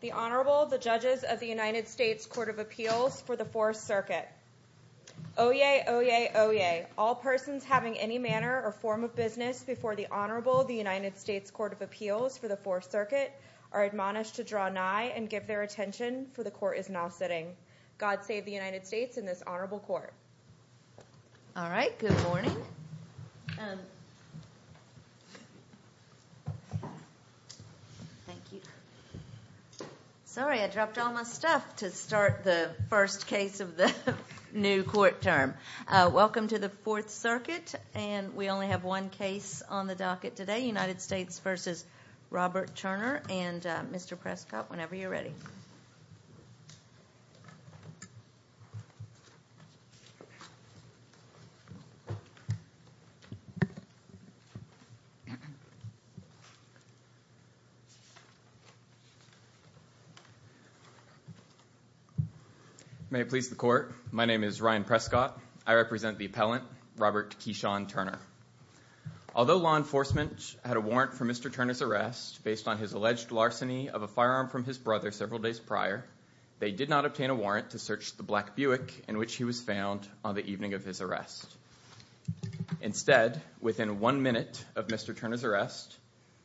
The Honorable, the Judges of the United States Court of Appeals for the Fourth Circuit. Oyez! Oyez! Oyez! All persons having any manner or form of business before the Honorable of the United States Court of Appeals for the Fourth Circuit are admonished to draw nigh and give their attention, for the Court is now sitting. God save the United States and this Honorable Court. All right, good morning. Thank you. Sorry, I dropped all my stuff to start the first case of the new court term. Welcome to the Fourth Circuit, and we only have one case on the docket today, United States v. Robert Turner. And Mr. Prescott, whenever you're ready. May it please the Court, my name is Ryan Prescott. I represent the appellant, Robert Keyshawn Turner. Although law enforcement had a warrant for Mr. Turner's arrest based on his alleged larceny of a firearm from his brother several days prior, they did not obtain a warrant to search the black Buick in which he was found on the evening of his arrest. Instead, within one minute of Mr. Turner's arrest,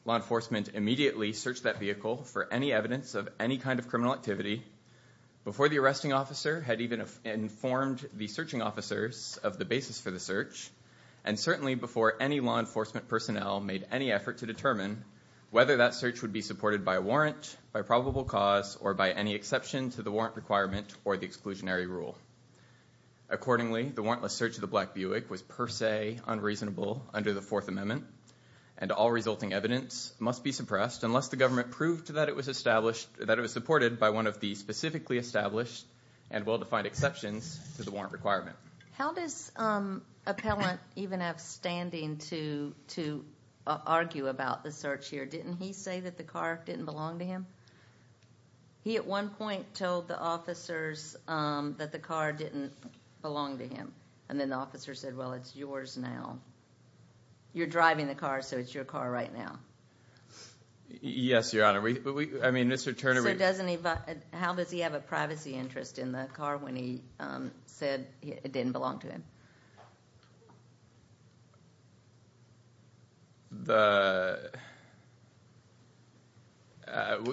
law enforcement immediately searched that vehicle for any evidence of any kind of criminal activity, before the arresting officer had even informed the searching officers of the basis for the search, and certainly before any law enforcement personnel made any effort to determine whether that search would be supported by a warrant, by probable cause, or by any exception to the warrant requirement or the exclusionary rule. Accordingly, the warrantless search of the black Buick was per se unreasonable under the Fourth Amendment, and all resulting evidence must be suppressed unless the government proved that it was supported by one of the specifically established and well-defined exceptions to the warrant requirement. How does appellant even have standing to argue about the search here? Didn't he say that the car didn't belong to him? He at one point told the officers that the car didn't belong to him, and then the officers said, well, it's yours now. You're driving the car, so it's your car right now. Yes, Your Honor. I mean, Mr. Turner... So how does he have a privacy interest in the car when he said it didn't belong to him?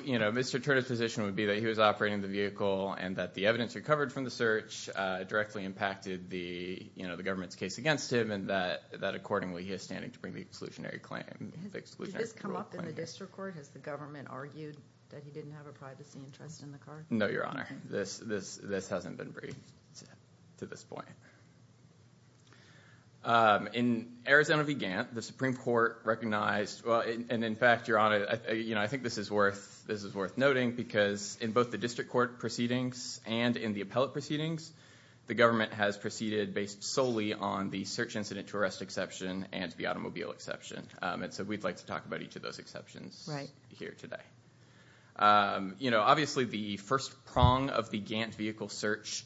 You know, Mr. Turner's position would be that he was operating the vehicle and that the evidence recovered from the search directly impacted the government's case against him, and that accordingly, he has standing to bring the exclusionary claim. Did this come up in the district court? Has the government argued that he didn't have a privacy interest in the car? No, Your Honor. This hasn't been briefed to this point. In Arizona v. Gantt, the Supreme Court recognized... And in fact, Your Honor, I think this is worth noting because in both the district court proceedings and in the appellate proceedings, the government has proceeded based solely on the search incident to arrest exception and the automobile exception. And so we'd like to talk about each of those exceptions here today. You know, obviously the first prong of the Gantt vehicle search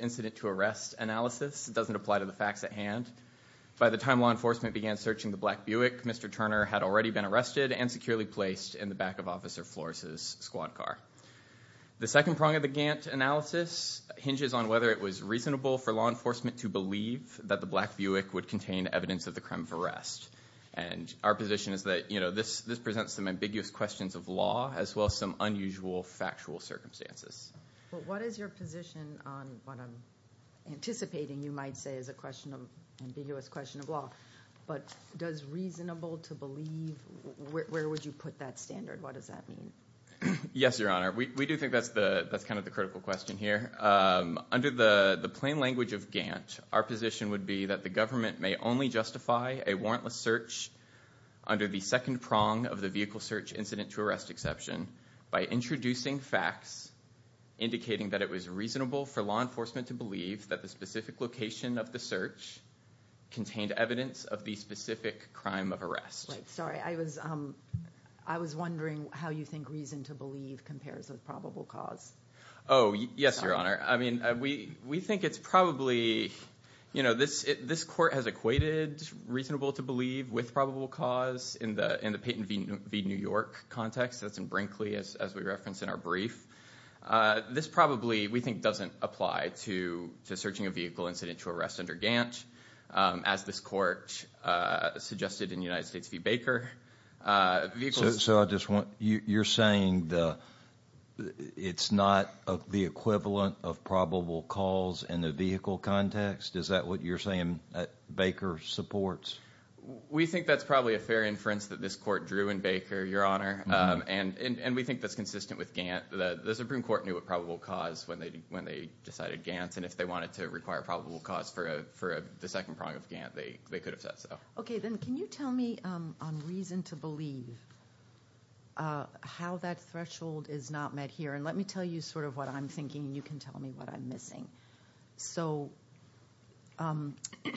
incident to arrest analysis doesn't apply to the facts at hand. By the time law enforcement began searching the black Buick, Mr. Turner had already been arrested and securely placed in the back of Officer Flores' squad car. The second prong of the Gantt analysis hinges on whether it was reasonable for law enforcement to believe that the black Buick would contain evidence of the crime of arrest. And our position is that, you know, this presents some ambiguous questions of law as well as some unusual factual circumstances. Well, what is your position on what I'm anticipating you might say is an ambiguous question of law. But does reasonable to believe, where would you put that standard? What does that mean? Yes, Your Honor. We do think that's kind of the critical question here. Under the plain language of Gantt, our position would be that the government may only justify a warrantless search under the second prong of the vehicle search incident to arrest exception. By introducing facts indicating that it was reasonable for law enforcement to believe that the specific location of the search contained evidence of the specific crime of arrest. Sorry, I was wondering how you think reason to believe compares with probable cause. Oh, yes, Your Honor. I mean, we think it's probably, you know, this court has equated reasonable to believe with probable cause in the Payton v. New York context. That's in Brinkley, as we referenced in our brief. This probably, we think, doesn't apply to searching a vehicle incident to arrest under Gantt, as this court suggested in United States v. Baker. So you're saying it's not the equivalent of probable cause in the vehicle context? Is that what you're saying Baker supports? We think that's probably a fair inference that this court drew in Baker, Your Honor. And we think that's consistent with Gantt. The Supreme Court knew what probable cause when they decided Gantt. And if they wanted to require probable cause for the second prong of Gantt, they could have said so. OK, then can you tell me on reason to believe how that threshold is not met here? And let me tell you sort of what I'm thinking. You can tell me what I'm missing. So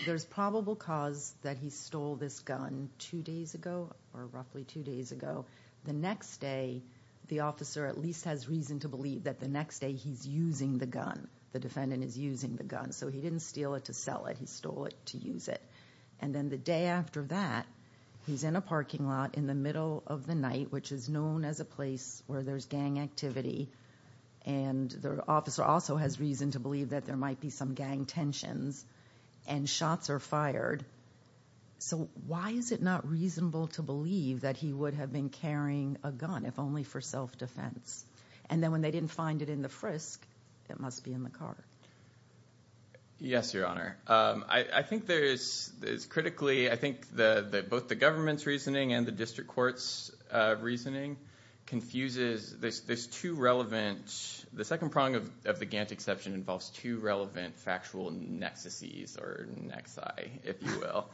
there's probable cause that he stole this gun two days ago or roughly two days ago. The next day, the officer at least has reason to believe that the next day he's using the gun. The defendant is using the gun. So he didn't steal it to sell it. He stole it to use it. And then the day after that, he's in a parking lot in the middle of the night, which is known as a place where there's gang activity. And the officer also has reason to believe that there might be some gang tensions and shots are fired. So why is it not reasonable to believe that he would have been carrying a gun if only for self-defense? And then when they didn't find it in the frisk, it must be in the car. Yes, Your Honor, I think there is. Critically, I think that both the government's reasoning and the district court's reasoning confuses this. There's two relevant. The second prong of the Gantt exception involves two relevant factual nexuses or nexi, if you will.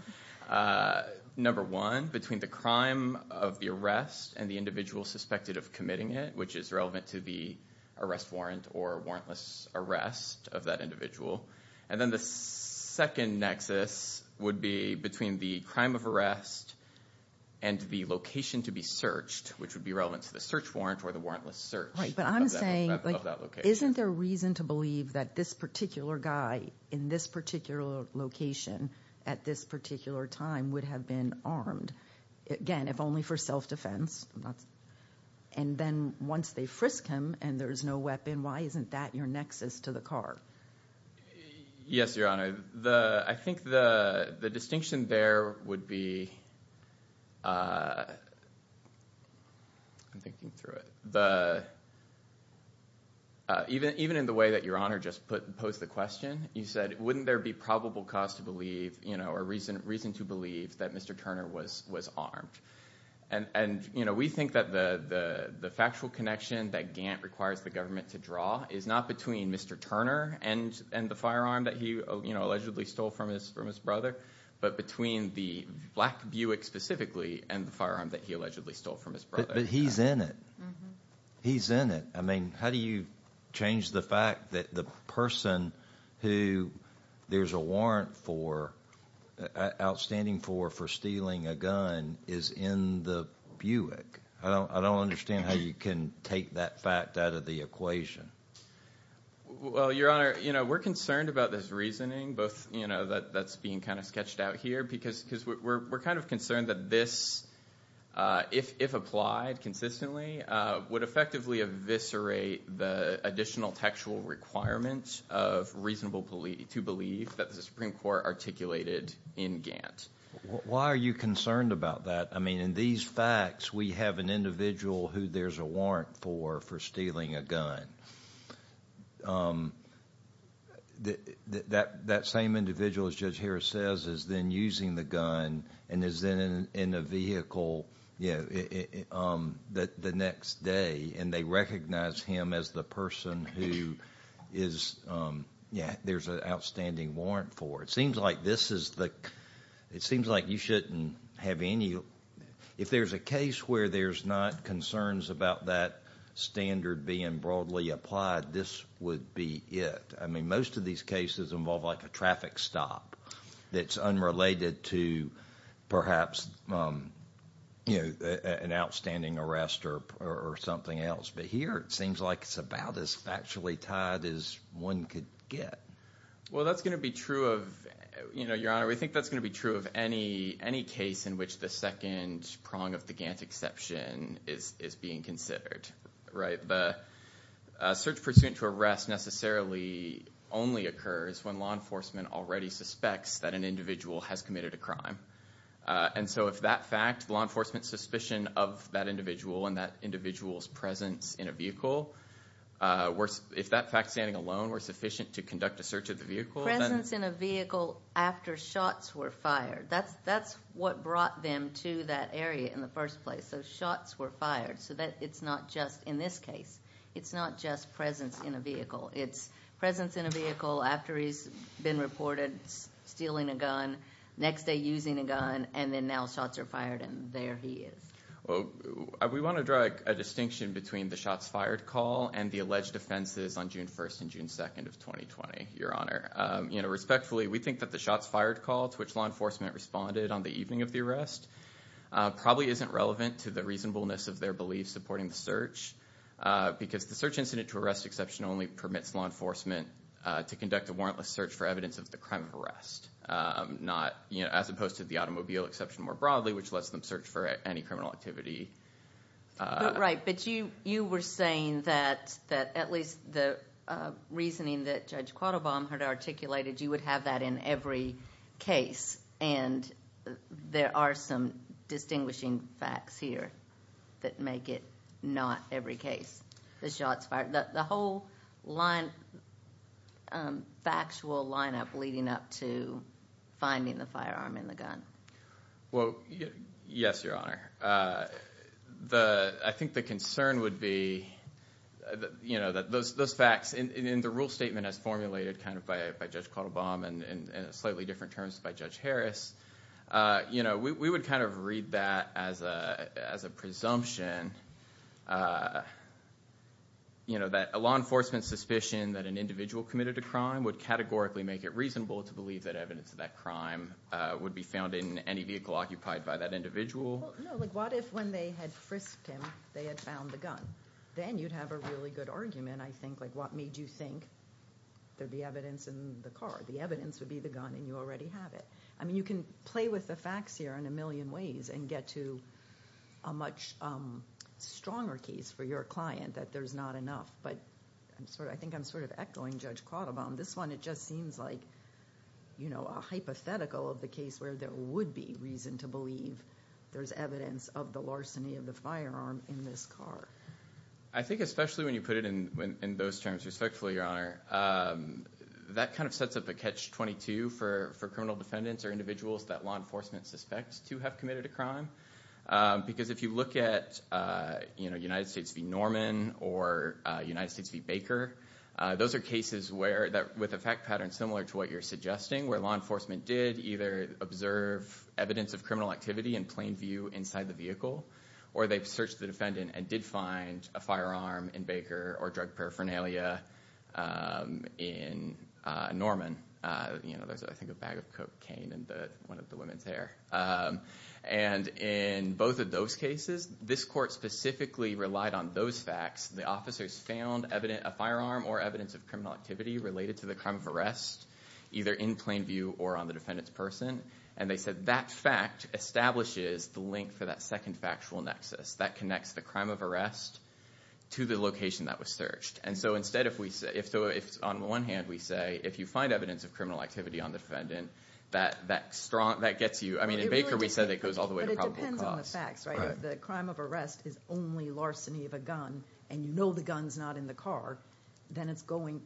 Number one, between the crime of the arrest and the individual suspected of committing it, which is relevant to the arrest warrant or warrantless arrest of that individual. And then the second nexus would be between the crime of arrest and the location to be searched, which would be relevant to the search warrant or the warrantless search of that location. Isn't there reason to believe that this particular guy in this particular location at this particular time would have been armed? Again, if only for self-defense. And then once they frisk him and there is no weapon, why isn't that your nexus to the car? Yes, Your Honor, I think the distinction there would be, I'm thinking through it. Even in the way that Your Honor just posed the question, you said, wouldn't there be probable cause to believe or reason to believe that Mr. Turner was armed? We think that the factual connection that Gantt requires the government to draw is not between Mr. Turner and the firearm that he allegedly stole from his brother, but between the black Buick specifically and the firearm that he allegedly stole from his brother. But he's in it. He's in it. I mean, how do you change the fact that the person who there's a warrant for, outstanding for, for stealing a gun is in the Buick? I don't understand how you can take that fact out of the equation. Well, Your Honor, we're concerned about this reasoning, both that's being kind of sketched out here, because we're kind of concerned that this, if applied consistently, would effectively eviscerate the additional textual requirements of reasonable belief, to believe that the Supreme Court articulated in Gantt. Why are you concerned about that? I mean, in these facts we have an individual who there's a warrant for, for stealing a gun. That same individual, as Judge Harris says, is then using the gun and is then in a vehicle the next day, and they recognize him as the person who there's an outstanding warrant for. It seems like this is the, it seems like you shouldn't have any, if there's a case where there's not concerns about that standard being broadly applied, this would be it. I mean, most of these cases involve like a traffic stop that's unrelated to perhaps an outstanding arrest or something else, but here it seems like it's about as factually tied as one could get. Well, that's going to be true of, you know, Your Honor, we think that's going to be true of any case in which the second prong of the Gantt exception is being considered, right? The search pursuant to arrest necessarily only occurs when law enforcement already suspects that an individual has committed a crime. And so if that fact, law enforcement's suspicion of that individual and that individual's presence in a vehicle, if that fact standing alone were sufficient to conduct a search of the vehicle, then- Presence in a vehicle after shots were fired. That's what brought them to that area in the first place. So shots were fired. So it's not just in this case. It's not just presence in a vehicle. It's presence in a vehicle after he's been reported stealing a gun, next day using a gun, and then now shots are fired and there he is. Well, we want to draw a distinction between the shots fired call and the alleged offenses on June 1st and June 2nd of 2020, Your Honor. You know, respectfully, we think that the shots fired call to which law enforcement responded on the evening of the arrest probably isn't relevant to the reasonableness of their beliefs supporting the search, because the search incident to arrest exception only permits law enforcement to conduct a warrantless search for evidence of the crime of arrest, as opposed to the automobile exception more broadly, which lets them search for any criminal activity. Right, but you were saying that at least the reasoning that Judge Quattlebaum had articulated, you would have that in every case, and there are some distinguishing facts here that make it not every case. The whole factual lineup leading up to finding the firearm in the gun. Well, yes, Your Honor. I think the concern would be, you know, those facts in the rule statement as formulated kind of by Judge Quattlebaum and in slightly different terms by Judge Harris. You know, we would kind of read that as a presumption, you know, that a law enforcement suspicion that an individual committed a crime would categorically make it reasonable to believe that evidence of that crime would be found in any vehicle occupied by that individual. No, like what if when they had frisked him, they had found the gun? Then you'd have a really good argument, I think. Like what made you think there'd be evidence in the car? The evidence would be the gun, and you already have it. I mean, you can play with the facts here in a million ways and get to a much stronger case for your client that there's not enough. But I think I'm sort of echoing Judge Quattlebaum. This one, it just seems like, you know, a hypothetical of the case where there would be reason to believe there's evidence of the larceny of the firearm in this car. I think especially when you put it in those terms respectfully, Your Honor, that kind of sets up a catch-22 for criminal defendants or individuals that law enforcement suspects to have committed a crime. Because if you look at, you know, United States v. Norman or United States v. Baker, those are cases with a fact pattern similar to what you're suggesting, where law enforcement did either observe evidence of criminal activity in plain view inside the vehicle, or they searched the defendant and did find a firearm in Baker or drug paraphernalia in Norman. You know, there's, I think, a bag of cocaine in one of the women's hair. And in both of those cases, this court specifically relied on those facts. The officers found a firearm or evidence of criminal activity related to the crime of arrest, either in plain view or on the defendant's person. And they said that fact establishes the link for that second factual nexus that connects the crime of arrest to the location that was searched. And so instead, on one hand, we say if you find evidence of criminal activity on the defendant, that gets you, I mean, in Baker we said it goes all the way to probable cause. But it depends on the facts, right? If the crime of arrest is only larceny of a gun and you know the gun's not in the car, then it's going,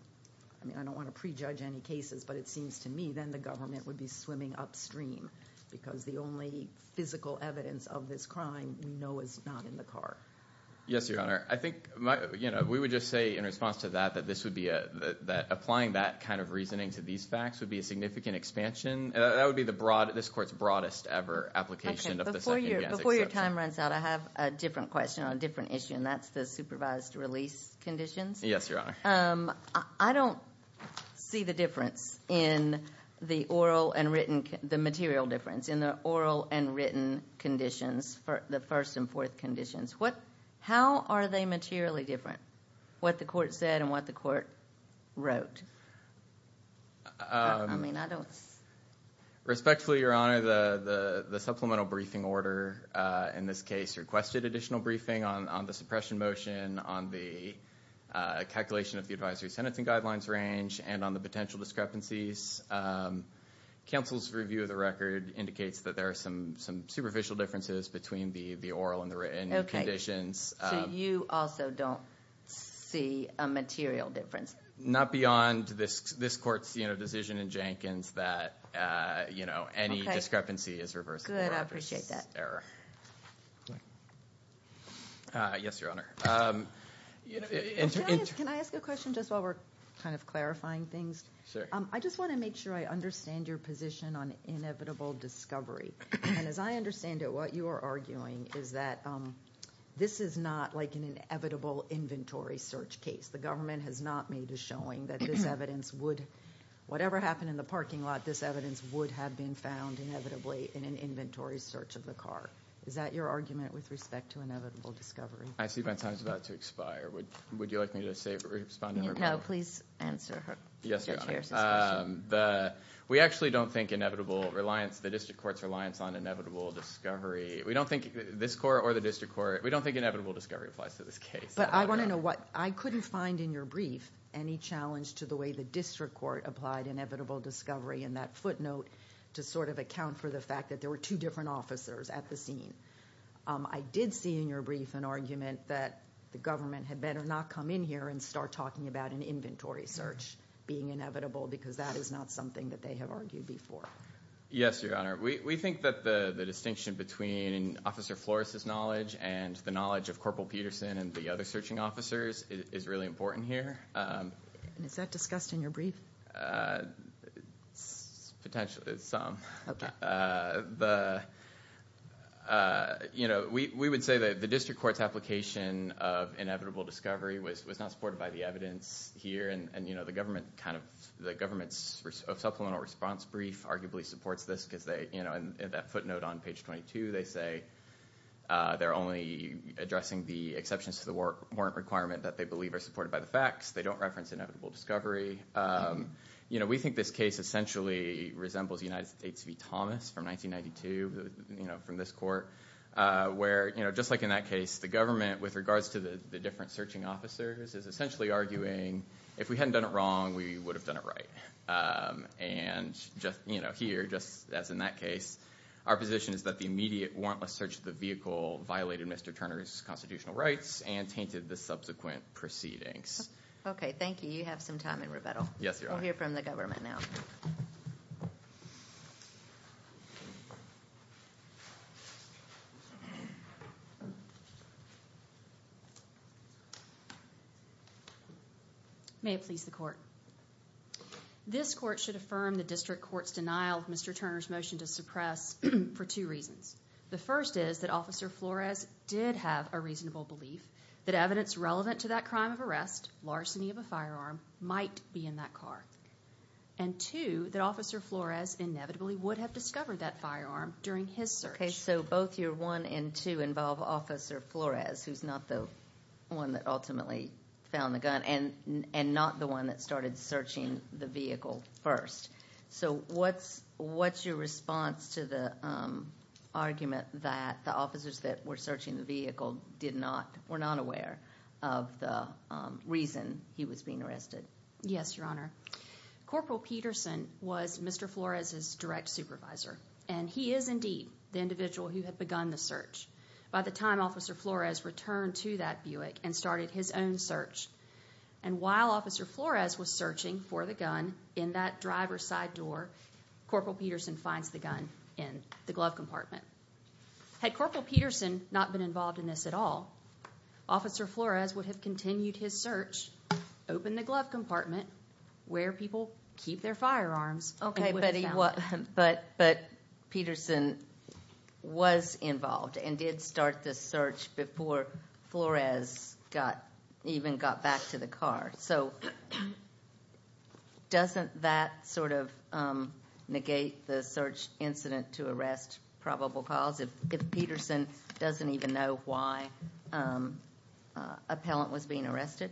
I mean, I don't want to prejudge any cases, but it seems to me then the government would be swimming upstream because the only physical evidence of this crime we know is not in the car. Yes, Your Honor. I think, you know, we would just say in response to that that this would be a, that applying that kind of reasoning to these facts would be a significant expansion. That would be the broad, this court's broadest ever application of the second EBS exception. Before your time runs out, I have a different question on a different issue, and that's the supervised release conditions. Yes, Your Honor. I don't see the difference in the oral and written, the material difference in the oral and written conditions, the first and fourth conditions. How are they materially different, what the court said and what the court wrote? I mean, I don't see. Respectfully, Your Honor, the supplemental briefing order in this case requested additional briefing on the suppression motion, on the calculation of the advisory sentencing guidelines range, and on the potential discrepancies. Counsel's review of the record indicates that there are some superficial differences between the oral and the written conditions. So you also don't see a material difference? Not beyond this court's decision in Jenkins that, you know, any discrepancy is reversible. Good, I appreciate that. Yes, Your Honor. Can I ask a question just while we're kind of clarifying things? Sure. I just want to make sure I understand your position on inevitable discovery. And as I understand it, what you are arguing is that this is not like an inevitable inventory search case. The government has not made a showing that this evidence would, whatever happened in the parking lot, this evidence would have been found inevitably in an inventory search of the car. Is that your argument with respect to inevitable discovery? I see my time is about to expire. Would you like me to respond? No, please answer Mr. Chair's question. We actually don't think inevitable reliance, the district court's reliance on inevitable discovery, we don't think this court or the district court, we don't think inevitable discovery applies to this case. But I want to know what, I couldn't find in your brief any challenge to the way the district court applied inevitable discovery in that footnote to sort of account for the fact that there were two different officers at the scene. I did see in your brief an argument that the government had better not come in here and start talking about an inventory search being inevitable because that is not something that they have argued before. Yes, Your Honor. We think that the distinction between Officer Flores' knowledge and the knowledge of Corporal Peterson and the other searching officers is really important here. Is that discussed in your brief? Potentially, some. You know, we would say that the district court's application of inevitable discovery was not supported by the evidence here and, you know, the government kind of, the government's supplemental response brief arguably supports this because they, you know, in that footnote on page 22, they say they're only addressing the exceptions to the warrant requirement that they believe are supported by the facts. They don't reference inevitable discovery. You know, we think this case essentially resembles United States v. Thomas from 1992, you know, from this court where, you know, just like in that case, the government with regards to the different searching officers is essentially arguing if we hadn't done it wrong, we would have done it right. And just, you know, here, just as in that case, our position is that the immediate warrantless search of the vehicle violated Mr. Turner's constitutional rights and tainted the subsequent proceedings. Okay. Thank you. You have some time in rebuttal. Yes, Your Honor. We'll hear from the government now. May it please the court. This court should affirm the district court's denial of Mr. Turner's motion to suppress for two reasons. The first is that Officer Flores did have a reasonable belief that evidence relevant to that crime of arrest, larceny of a firearm might be in that car. And two, that Officer Flores inevitably would have discovered that firearm during his search. Okay, so both your one and two involve Officer Flores, who's not the one that ultimately found the gun and not the one that started searching the vehicle first. So what's, what's your response to the argument that the officers that were searching the vehicle did not, were not aware of the reason he was being arrested? Yes, Your Honor. Corporal Peterson was Mr. Flores' direct supervisor, and he is indeed the individual who had begun the search. By the time Officer Flores returned to that Buick and started his own search. And while Officer Flores was searching for the gun in that driver's side door, Corporal Peterson finds the gun in the glove compartment. Had Corporal Peterson not been involved in this at all, Officer Flores would have continued his search, opened the glove compartment where people keep their firearms. Okay, but he wasn't, but, but Peterson was involved and did start the search before Flores got, even got back to the car. So doesn't that sort of negate the search incident to arrest probable cause, if Peterson doesn't even know why appellant was being arrested?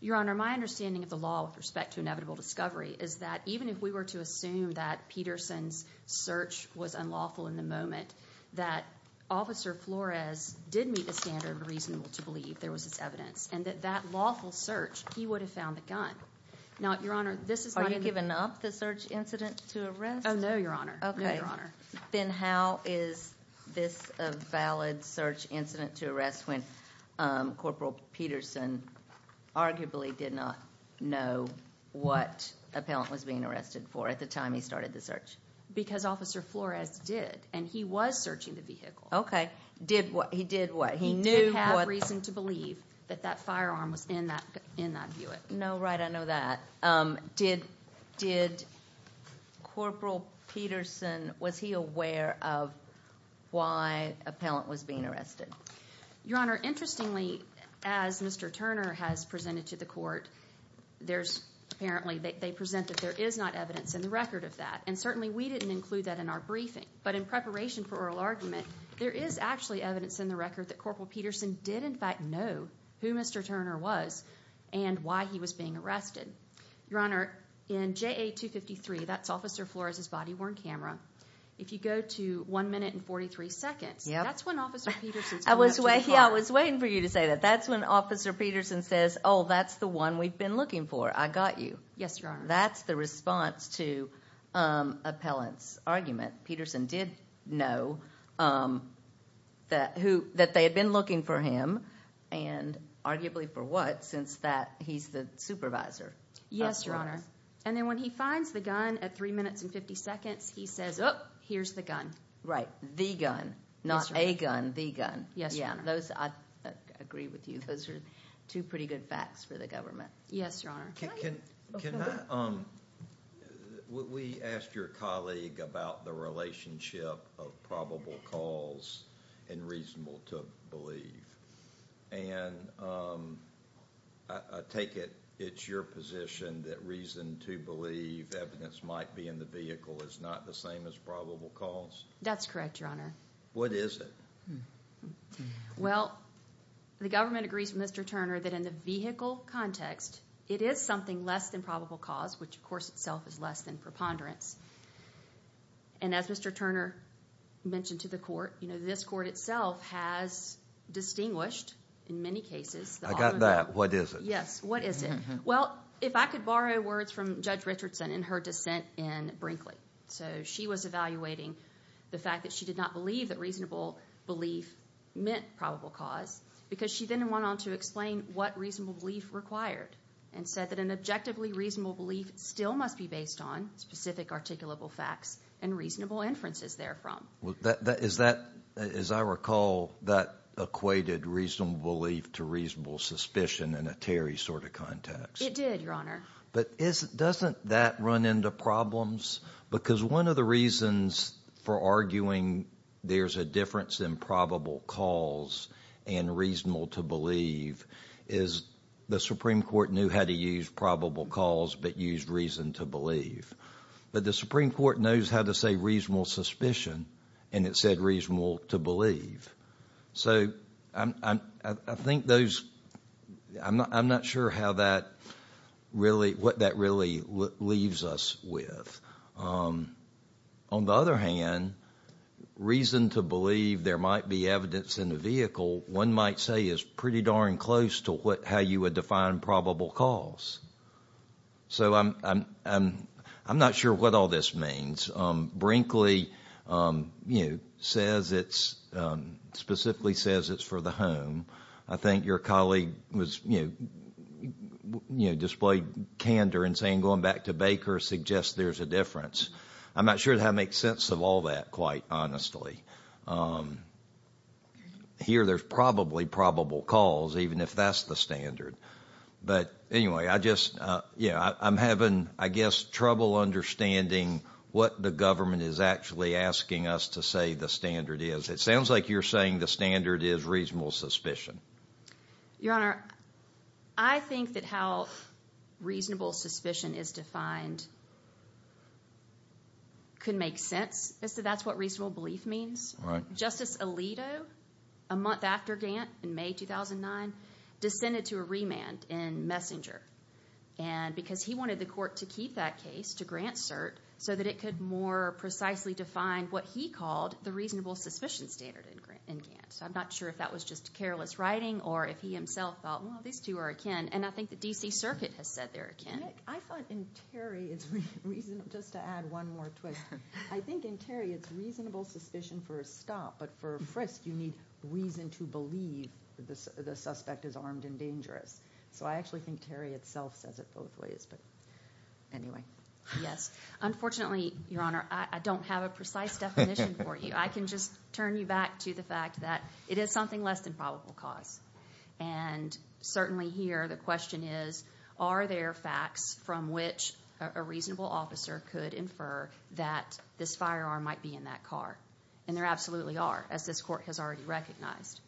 Your Honor, my understanding of the law with respect to inevitable discovery is that even if we were to assume that Peterson's search was unlawful in the moment, that Officer Flores did meet the standard reasonable to believe there was evidence and that that lawful search, he would have found the gun. Now, Your Honor, this is my- Are you giving up the search incident to arrest? Oh, no, Your Honor. Okay. No, Your Honor. Then how is this a valid search incident to arrest when Corporal Peterson arguably did not know what appellant was being arrested for at the time he started the search? Because Officer Flores did, and he was searching the vehicle. Okay. Did what? He did what? He did not meet the standard reasonable to believe that that firearm was in that Buick. No, right. I know that. Did Corporal Peterson, was he aware of why appellant was being arrested? Your Honor, interestingly, as Mr. Turner has presented to the court, apparently they present that there is not evidence in the record of that, and certainly we didn't include that in our briefing. But in preparation for oral argument, there is actually evidence in the record that Corporal Peterson did, in fact, know who Mr. Turner was and why he was being arrested. Your Honor, in JA 253, that's Officer Flores' body-worn camera, if you go to 1 minute and 43 seconds- Yep. That's when Officer Peterson's- I was waiting for you to say that. That's when Officer Peterson says, oh, that's the one we've been looking for. I got you. Yes, Your Honor. That's the response to appellant's argument. Peterson did know that they had been looking for him, and arguably for what, since he's the supervisor. Yes, Your Honor. And then when he finds the gun at 3 minutes and 50 seconds, he says, oh, here's the gun. Right, the gun, not a gun, the gun. Yes, Your Honor. I agree with you. Those are two pretty good facts for the government. Yes, Your Honor. Can I-we asked your colleague about the relationship of probable cause and reasonable to believe, and I take it it's your position that reason to believe evidence might be in the vehicle is not the same as probable cause? That's correct, Your Honor. What is it? Well, the government agrees with Mr. Turner that in the vehicle context, it is something less than probable cause, which of course itself is less than preponderance. And as Mr. Turner mentioned to the court, this court itself has distinguished in many cases- I got that. What is it? Yes, what is it? Well, if I could borrow words from Judge Richardson in her dissent in Brinkley. So she was evaluating the fact that she did not believe that reasonable belief meant probable cause because she then went on to explain what reasonable belief required and said that an objectively reasonable belief still must be based on specific articulable facts and reasonable inferences therefrom. Is that-as I recall, that equated reasonable belief to reasonable suspicion in a Terry sort of context. It did, Your Honor. But doesn't that run into problems? Because one of the reasons for arguing there's a difference in probable cause and reasonable to believe is the Supreme Court knew how to use probable cause but used reason to believe. But the Supreme Court knows how to say reasonable suspicion, and it said reasonable to believe. So I think those-I'm not sure how that really-what that really leaves us with. On the other hand, reason to believe there might be evidence in the vehicle, one might say is pretty darn close to how you would define probable cause. So I'm not sure what all this means. Brinkley, you know, says it's-specifically says it's for the home. I think your colleague was, you know, displayed candor in saying going back to Baker suggests there's a difference. I'm not sure that makes sense of all that, quite honestly. Here there's probably probable cause, even if that's the standard. But anyway, I just-yeah, I'm having, I guess, trouble understanding what the government is actually asking us to say the standard is. It sounds like you're saying the standard is reasonable suspicion. Your Honor, I think that how reasonable suspicion is defined could make sense. That's what reasonable belief means. Justice Alito, a month after Gant in May 2009, descended to a remand in Messenger. And because he wanted the court to keep that case, to grant cert, so that it could more precisely define what he called the reasonable suspicion standard in Gant. So I'm not sure if that was just careless writing or if he himself thought, well, these two are akin. And I think the D.C. Circuit has said they're akin. I thought in Terry it's reasonable-just to add one more twist. I think in Terry it's reasonable suspicion for a stop. But for a frisk, you need reason to believe the suspect is armed and dangerous. So I actually think Terry itself says it both ways. But anyway. Yes, unfortunately, Your Honor, I don't have a precise definition for you. I can just turn you back to the fact that it is something less than probable cause. And certainly here the question is, are there facts from which a reasonable officer could infer that this firearm might be in that car? And there absolutely are, as this court has already recognized.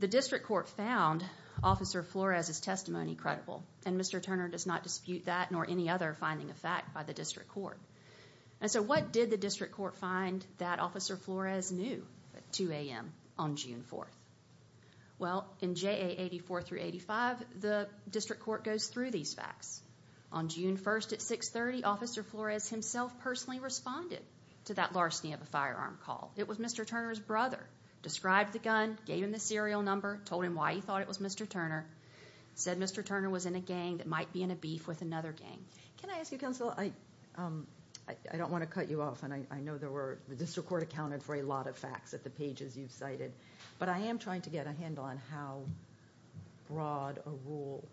The district court found Officer Flores' testimony credible. And Mr. Turner does not dispute that nor any other finding of fact by the district court. And so what did the district court find that Officer Flores knew at 2 a.m. on June 4th? Well, in JA 84-85, the district court goes through these facts. On June 1st at 6.30, Officer Flores himself personally responded to that larceny of a firearm call. It was Mr. Turner's brother, described the gun, gave him the serial number, told him why he thought it was Mr. Turner, said Mr. Turner was in a gang that might be in a beef with another gang. Can I ask you, Counsel, I don't want to cut you off, and I know the district court accounted for a lot of facts at the pages you've cited. But I am trying to get a handle on how broad a rule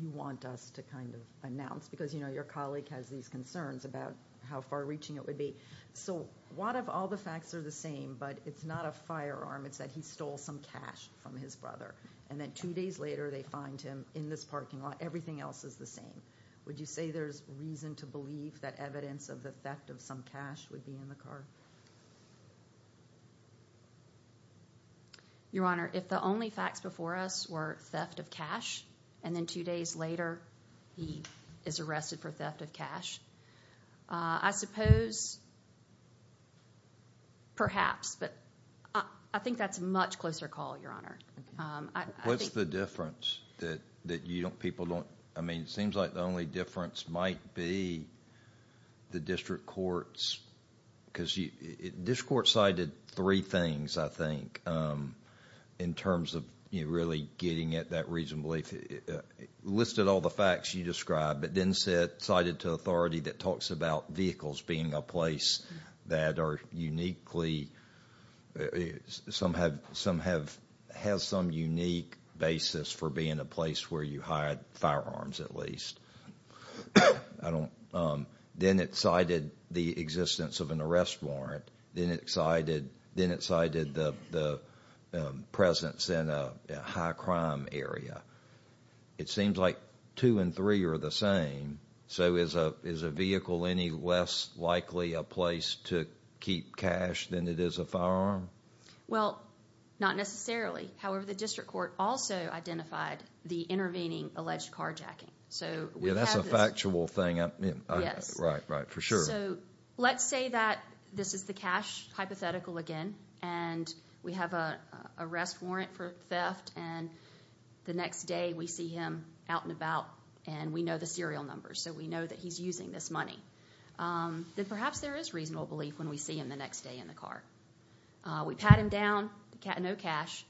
you want us to kind of announce because, you know, your colleague has these concerns about how far-reaching it would be. So what if all the facts are the same but it's not a firearm? It's that he stole some cash from his brother. And then two days later they find him in this parking lot. Everything else is the same. Would you say there's reason to believe that evidence of the theft of some cash would be in the car? Your Honor, if the only facts before us were theft of cash and then two days later he is arrested for theft of cash, I suppose perhaps, but I think that's a much closer call, Your Honor. What's the difference that you don't, people don't, I mean, it seems like the only difference might be the district courts. Because district courts cited three things, I think, in terms of really getting at that reason to believe. It listed all the facts you described but then cited to authority that talks about vehicles being a place that are uniquely, some have, has some unique basis for being a place where you hide firearms at least. Then it cited the existence of an arrest warrant. Then it cited the presence in a high crime area. It seems like two and three are the same. So is a vehicle any less likely a place to keep cash than it is a firearm? Well, not necessarily. However, the district court also identified the intervening alleged carjacking. Yeah, that's a factual thing. Yes. Right, right, for sure. So let's say that this is the cash hypothetical again and we have an arrest warrant for theft and the next day we see him out and about and we know the serial numbers so we know that he's using this money. Then perhaps there is reasonable belief when we see him the next day in the car. We pat him down, no cash,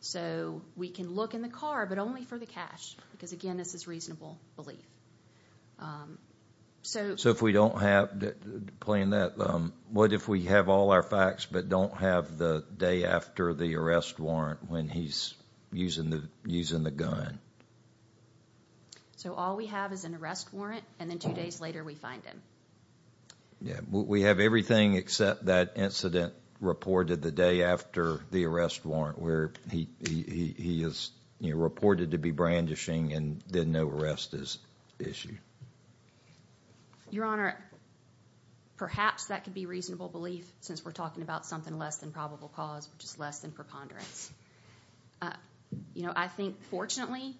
so we can look in the car but only for the cash because, again, this is reasonable belief. So if we don't have, playing that, what if we have all our facts but don't have the day after the arrest warrant when he's using the gun? So all we have is an arrest warrant and then two days later we find him. Yeah, we have everything except that incident reported the day after the arrest warrant where he is reported to be brandishing and then no arrest is issued. Your Honor, perhaps that could be reasonable belief since we're talking about something less than probable cause which is less than preponderance. I think, fortunately,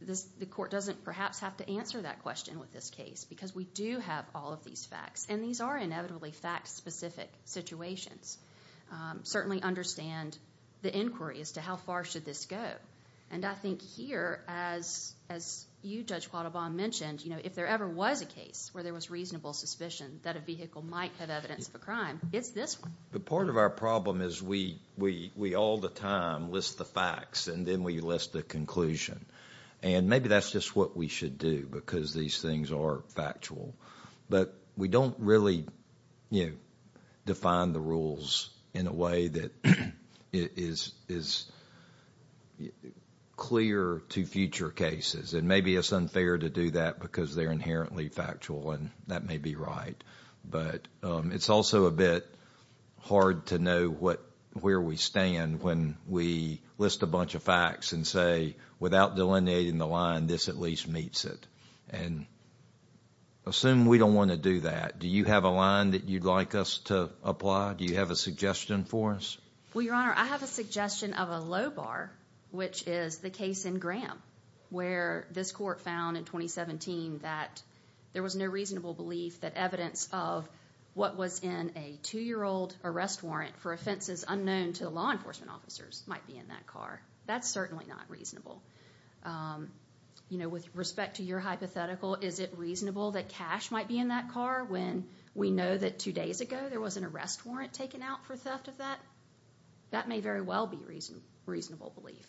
the court doesn't perhaps have to answer that question with this case because we do have all of these facts and these are inevitably fact-specific situations. Certainly understand the inquiry as to how far should this go and I think here, as you, Judge Quattlebaum, mentioned, if there ever was a case where there was reasonable suspicion that a vehicle might have evidence of a crime, it's this one. But part of our problem is we all the time list the facts and then we list the conclusion. And maybe that's just what we should do because these things are factual. But we don't really define the rules in a way that is clear to future cases. And maybe it's unfair to do that because they're inherently factual and that may be right. But it's also a bit hard to know where we stand when we list a bunch of facts and say, without delineating the line, this at least meets it. And assume we don't want to do that. Do you have a line that you'd like us to apply? Do you have a suggestion for us? Well, Your Honor, I have a suggestion of a low bar, which is the case in Graham, where this court found in 2017 that there was no reasonable belief that evidence of what was in a two-year-old arrest warrant for offenses unknown to law enforcement officers might be in that car. That's certainly not reasonable. With respect to your hypothetical, is it reasonable that cash might be in that car when we know that two days ago there was an arrest warrant taken out for theft of that? That may very well be reasonable belief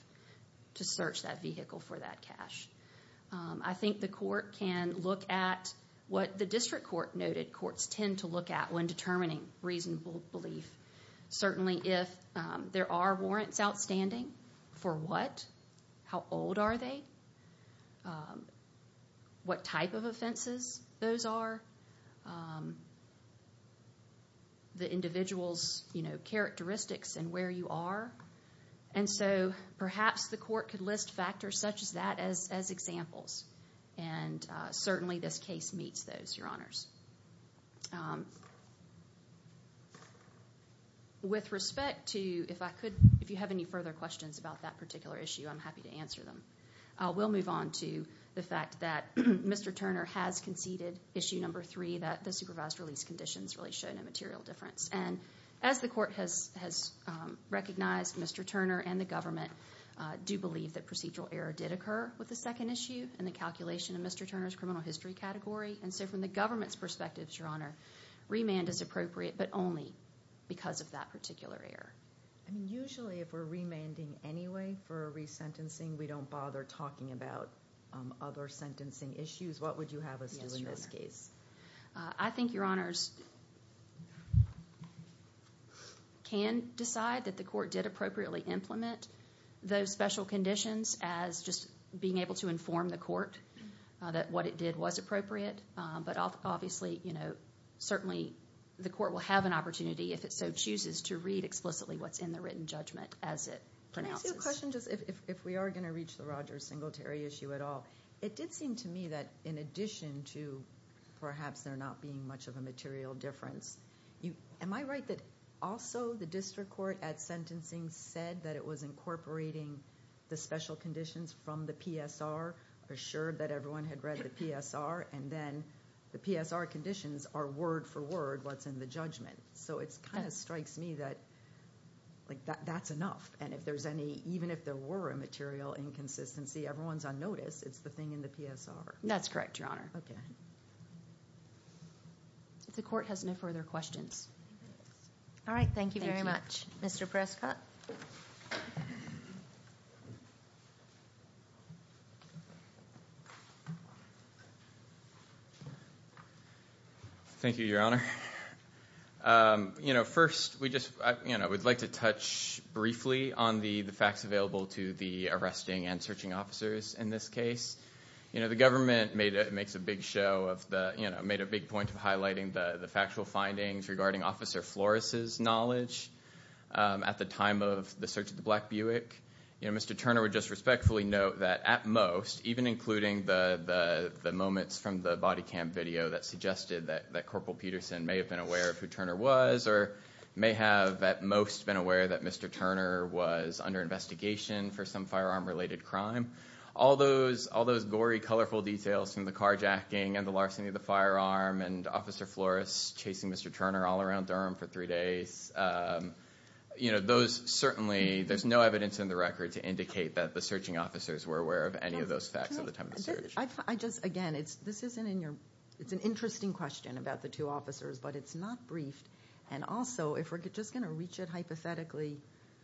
to search that vehicle for that cash. I think the court can look at what the district court noted courts tend to look at when determining reasonable belief. Certainly if there are warrants outstanding, for what? How old are they? What type of offenses those are? The individual's characteristics and where you are. And so perhaps the court could list factors such as that as examples. And certainly this case meets those, Your Honors. With respect to, if you have any further questions about that particular issue, I'm happy to answer them. We'll move on to the fact that Mr. Turner has conceded issue number three, that the supervised release conditions really show no material difference. And as the court has recognized, Mr. Turner and the government do believe that procedural error did occur with the second issue in the calculation of Mr. Turner's criminal history category. And so from the government's perspective, Your Honor, remand is appropriate, but only because of that particular error. I mean, usually if we're remanding anyway for resentencing, we don't bother talking about other sentencing issues. What would you have us do in this case? I think, Your Honors, can decide that the court did appropriately implement those special conditions as just being able to inform the court that what it did was appropriate. But obviously, certainly the court will have an opportunity, if it so chooses, to read explicitly what's in the written judgment as it pronounces. Can I ask you a question, just if we are going to reach the Rogers Singletary issue at all? It did seem to me that in addition to perhaps there not being much of a material difference, am I right that also the district court at sentencing said that it was incorporating the special conditions from the PSR, assured that everyone had read the PSR, and then the PSR conditions are word for word what's in the judgment? So it kind of strikes me that that's enough. And even if there were a material inconsistency, everyone's on notice. It's the thing in the PSR. That's correct, Your Honor. The court has no further questions. All right. Thank you very much. Mr. Prescott. Thank you, Your Honor. First, we'd like to touch briefly on the facts available to the arresting and searching officers in this case. You know, the government makes a big point of highlighting the factual findings regarding Officer Flores' knowledge at the time of the search of the black Buick. You know, Mr. Turner would just respectfully note that at most, even including the moments from the body cam video that suggested that Corporal Peterson may have been aware of who Turner was or may have at most been aware that Mr. Turner was under investigation for some firearm-related crime, all those gory, colorful details from the carjacking and the larceny of the firearm and Officer Flores chasing Mr. Turner all around Durham for three days, you know, those certainly, there's no evidence in the record to indicate that the searching officers were aware of any of those facts at the time of the search. I just, again, it's an interesting question about the two officers, but it's not briefed. And also, if we're just going to reach it hypothetically.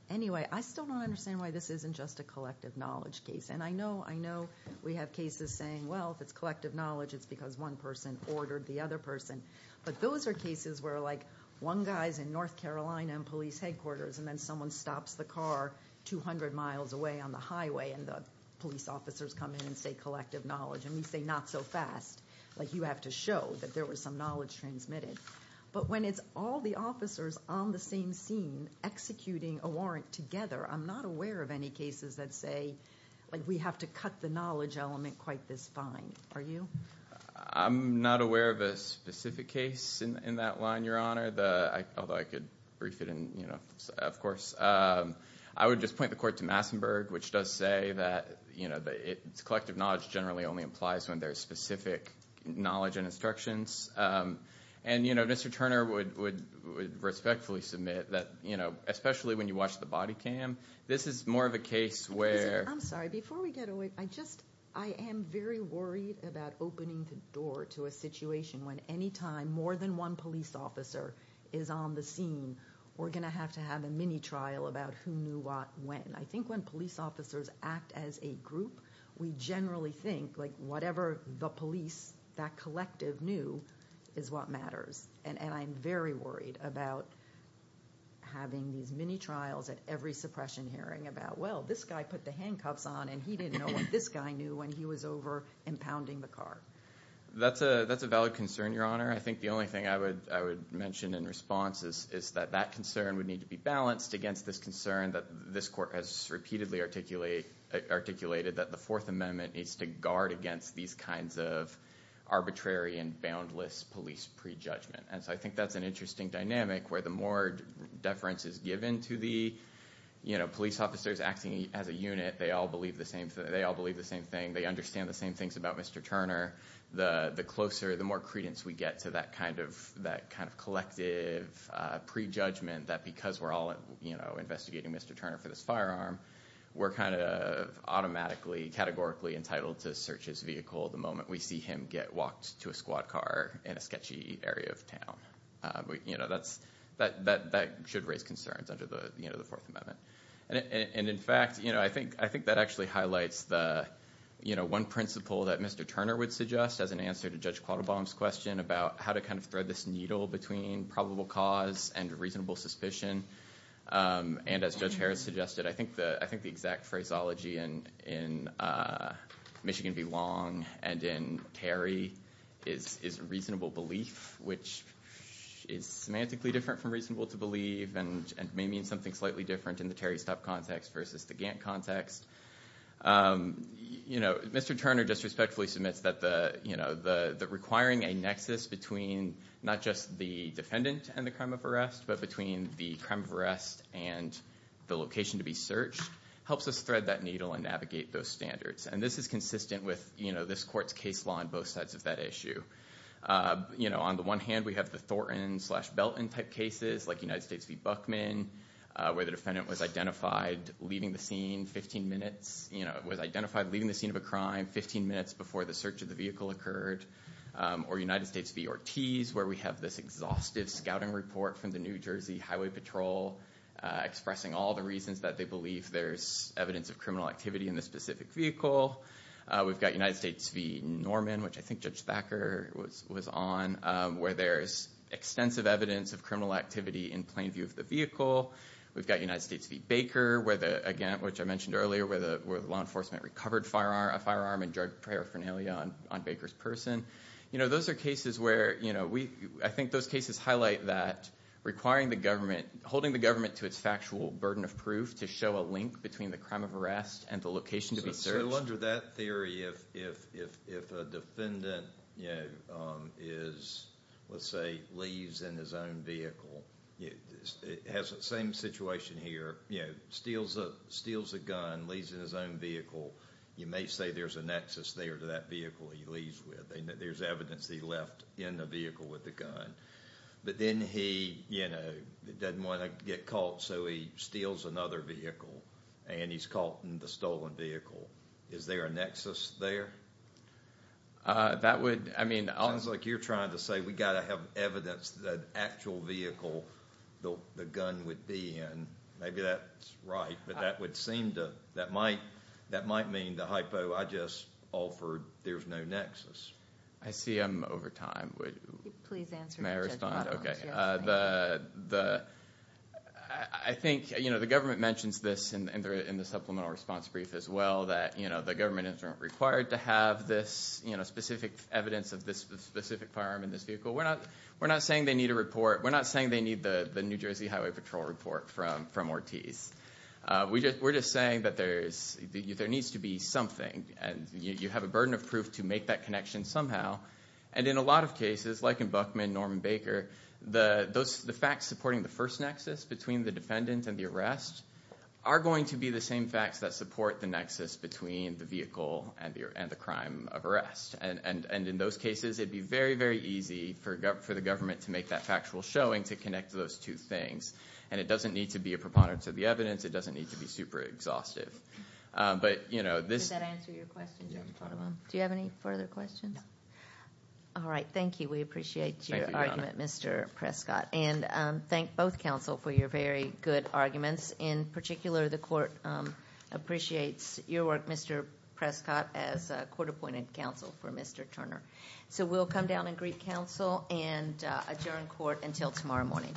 Anyway, I still don't understand why this isn't just a collective knowledge case. And I know we have cases saying, well, if it's collective knowledge, it's because one person ordered the other person. But those are cases where, like, one guy's in North Carolina in police headquarters, and then someone stops the car 200 miles away on the highway, and the police officers come in and say, collective knowledge. And we say, not so fast. Like, you have to show that there was some knowledge transmitted. But when it's all the officers on the same scene executing a warrant together, I'm not aware of any cases that say, like, we have to cut the knowledge element quite this fine. Are you? I'm not aware of a specific case in that line, Your Honor. Although I could brief it in, you know, of course. I would just point the court to Massenburg, which does say that, you know, collective knowledge generally only applies when there's specific knowledge and instructions. And, you know, Mr. Turner would respectfully submit that, you know, especially when you watch the body cam, this is more of a case where. I'm sorry. Before we get away, I just, I am very worried about opening the door to a situation when any time more than one police officer is on the scene, we're going to have to have a mini trial about who knew what when. I think when police officers act as a group, we generally think, like, whatever the police, that collective knew, is what matters. And I'm very worried about having these mini trials at every suppression hearing about, well, this guy put the handcuffs on, and he didn't know what this guy knew when he was over impounding the car. That's a valid concern, Your Honor. I think the only thing I would mention in response is that that concern would need to be balanced against this concern that this court has repeatedly articulated that the Fourth Amendment needs to guard against these kinds of arbitrary and boundless police prejudgment. And so I think that's an interesting dynamic where the more deference is given to the, you know, police officers acting as a unit, they all believe the same thing, they understand the same things about Mr. Turner, the closer, the more credence we get to that kind of collective prejudgment that because we're all, you know, investigating Mr. Turner for this firearm, we're kind of automatically, categorically entitled to search his vehicle the moment we see him get walked to a squad car in a sketchy area of town. You know, that should raise concerns under the Fourth Amendment. And in fact, you know, I think that actually highlights the, you know, one principle that Mr. Turner would suggest as an answer to Judge Quattlebaum's question about how to kind of thread this needle between probable cause and reasonable suspicion. And as Judge Harris suggested, I think the exact phraseology in Michigan v. Long and in Terry is reasonable belief, which is semantically different from reasonable to believe and may mean something slightly different in the Terry Stubb context versus the Gantt context. You know, Mr. Turner just respectfully submits that the, you know, the requiring a nexus between not just the defendant and the crime of arrest, but between the crime of arrest and the location to be searched helps us thread that needle and navigate those standards. And this is consistent with, you know, this court's case law on both sides of that issue. You know, on the one hand, we have the Thornton slash Belton type cases, like United States v. Buckman, where the defendant was identified leaving the scene 15 minutes, you know, was identified leaving the scene of a crime 15 minutes before the search of the vehicle occurred. Or United States v. Ortiz, where we have this exhaustive scouting report from the New Jersey Highway Patrol expressing all the reasons that they believe there's evidence of criminal activity in the specific vehicle. We've got United States v. Norman, which I think Judge Thacker was on, where there's extensive evidence of criminal activity in plain view of the vehicle. We've got United States v. Baker, where the, again, which I mentioned earlier, where the law enforcement recovered a firearm and drug paraphernalia on Baker's person. You know, those are cases where, you know, I think those cases highlight that requiring the government, holding the government to its factual burden of proof to show a link between the crime of arrest and the location to be searched. So under that theory, if a defendant, you know, is, let's say, leaves in his own vehicle, it has the same situation here, you know, steals a gun, leaves in his own vehicle. You may say there's a nexus there to that vehicle he leaves with. There's evidence that he left in the vehicle with the gun. But then he, you know, didn't want to get caught, so he steals another vehicle, and he's caught in the stolen vehicle. Is there a nexus there? That would, I mean. It sounds like you're trying to say we've got to have evidence that an actual vehicle the gun would be in. Maybe that's right, but that would seem to, that might mean the hypo I just offered, there's no nexus. I see I'm over time. Please answer the question. Yes, please. I think, you know, the government mentions this in the supplemental response brief as well, that, you know, the government isn't required to have this specific evidence of this specific firearm in this vehicle. We're not saying they need a report. We're not saying they need the New Jersey Highway Patrol report from Ortiz. We're just saying that there needs to be something, and you have a burden of proof to make that connection somehow. And in a lot of cases, like in Buckman, Norman Baker, the facts supporting the first nexus between the defendant and the arrest are going to be the same facts that support the nexus between the vehicle and the crime of arrest. And in those cases, it would be very, very easy for the government to make that factual showing to connect those two things. And it doesn't need to be a preponderance of the evidence. It doesn't need to be super exhaustive. But, you know, this. Does that answer your question, Judge Potomac? Do you have any further questions? No. All right. Thank you. We appreciate your argument, Mr. Prescott. And thank both counsel for your very good arguments. In particular, the court appreciates your work, Mr. Prescott, as court-appointed counsel for Mr. Turner. So we'll come down and greet counsel and adjourn court until tomorrow morning.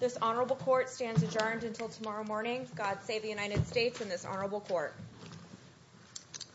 This honorable court stands adjourned until tomorrow morning. God save the United States and this honorable court. Thank you.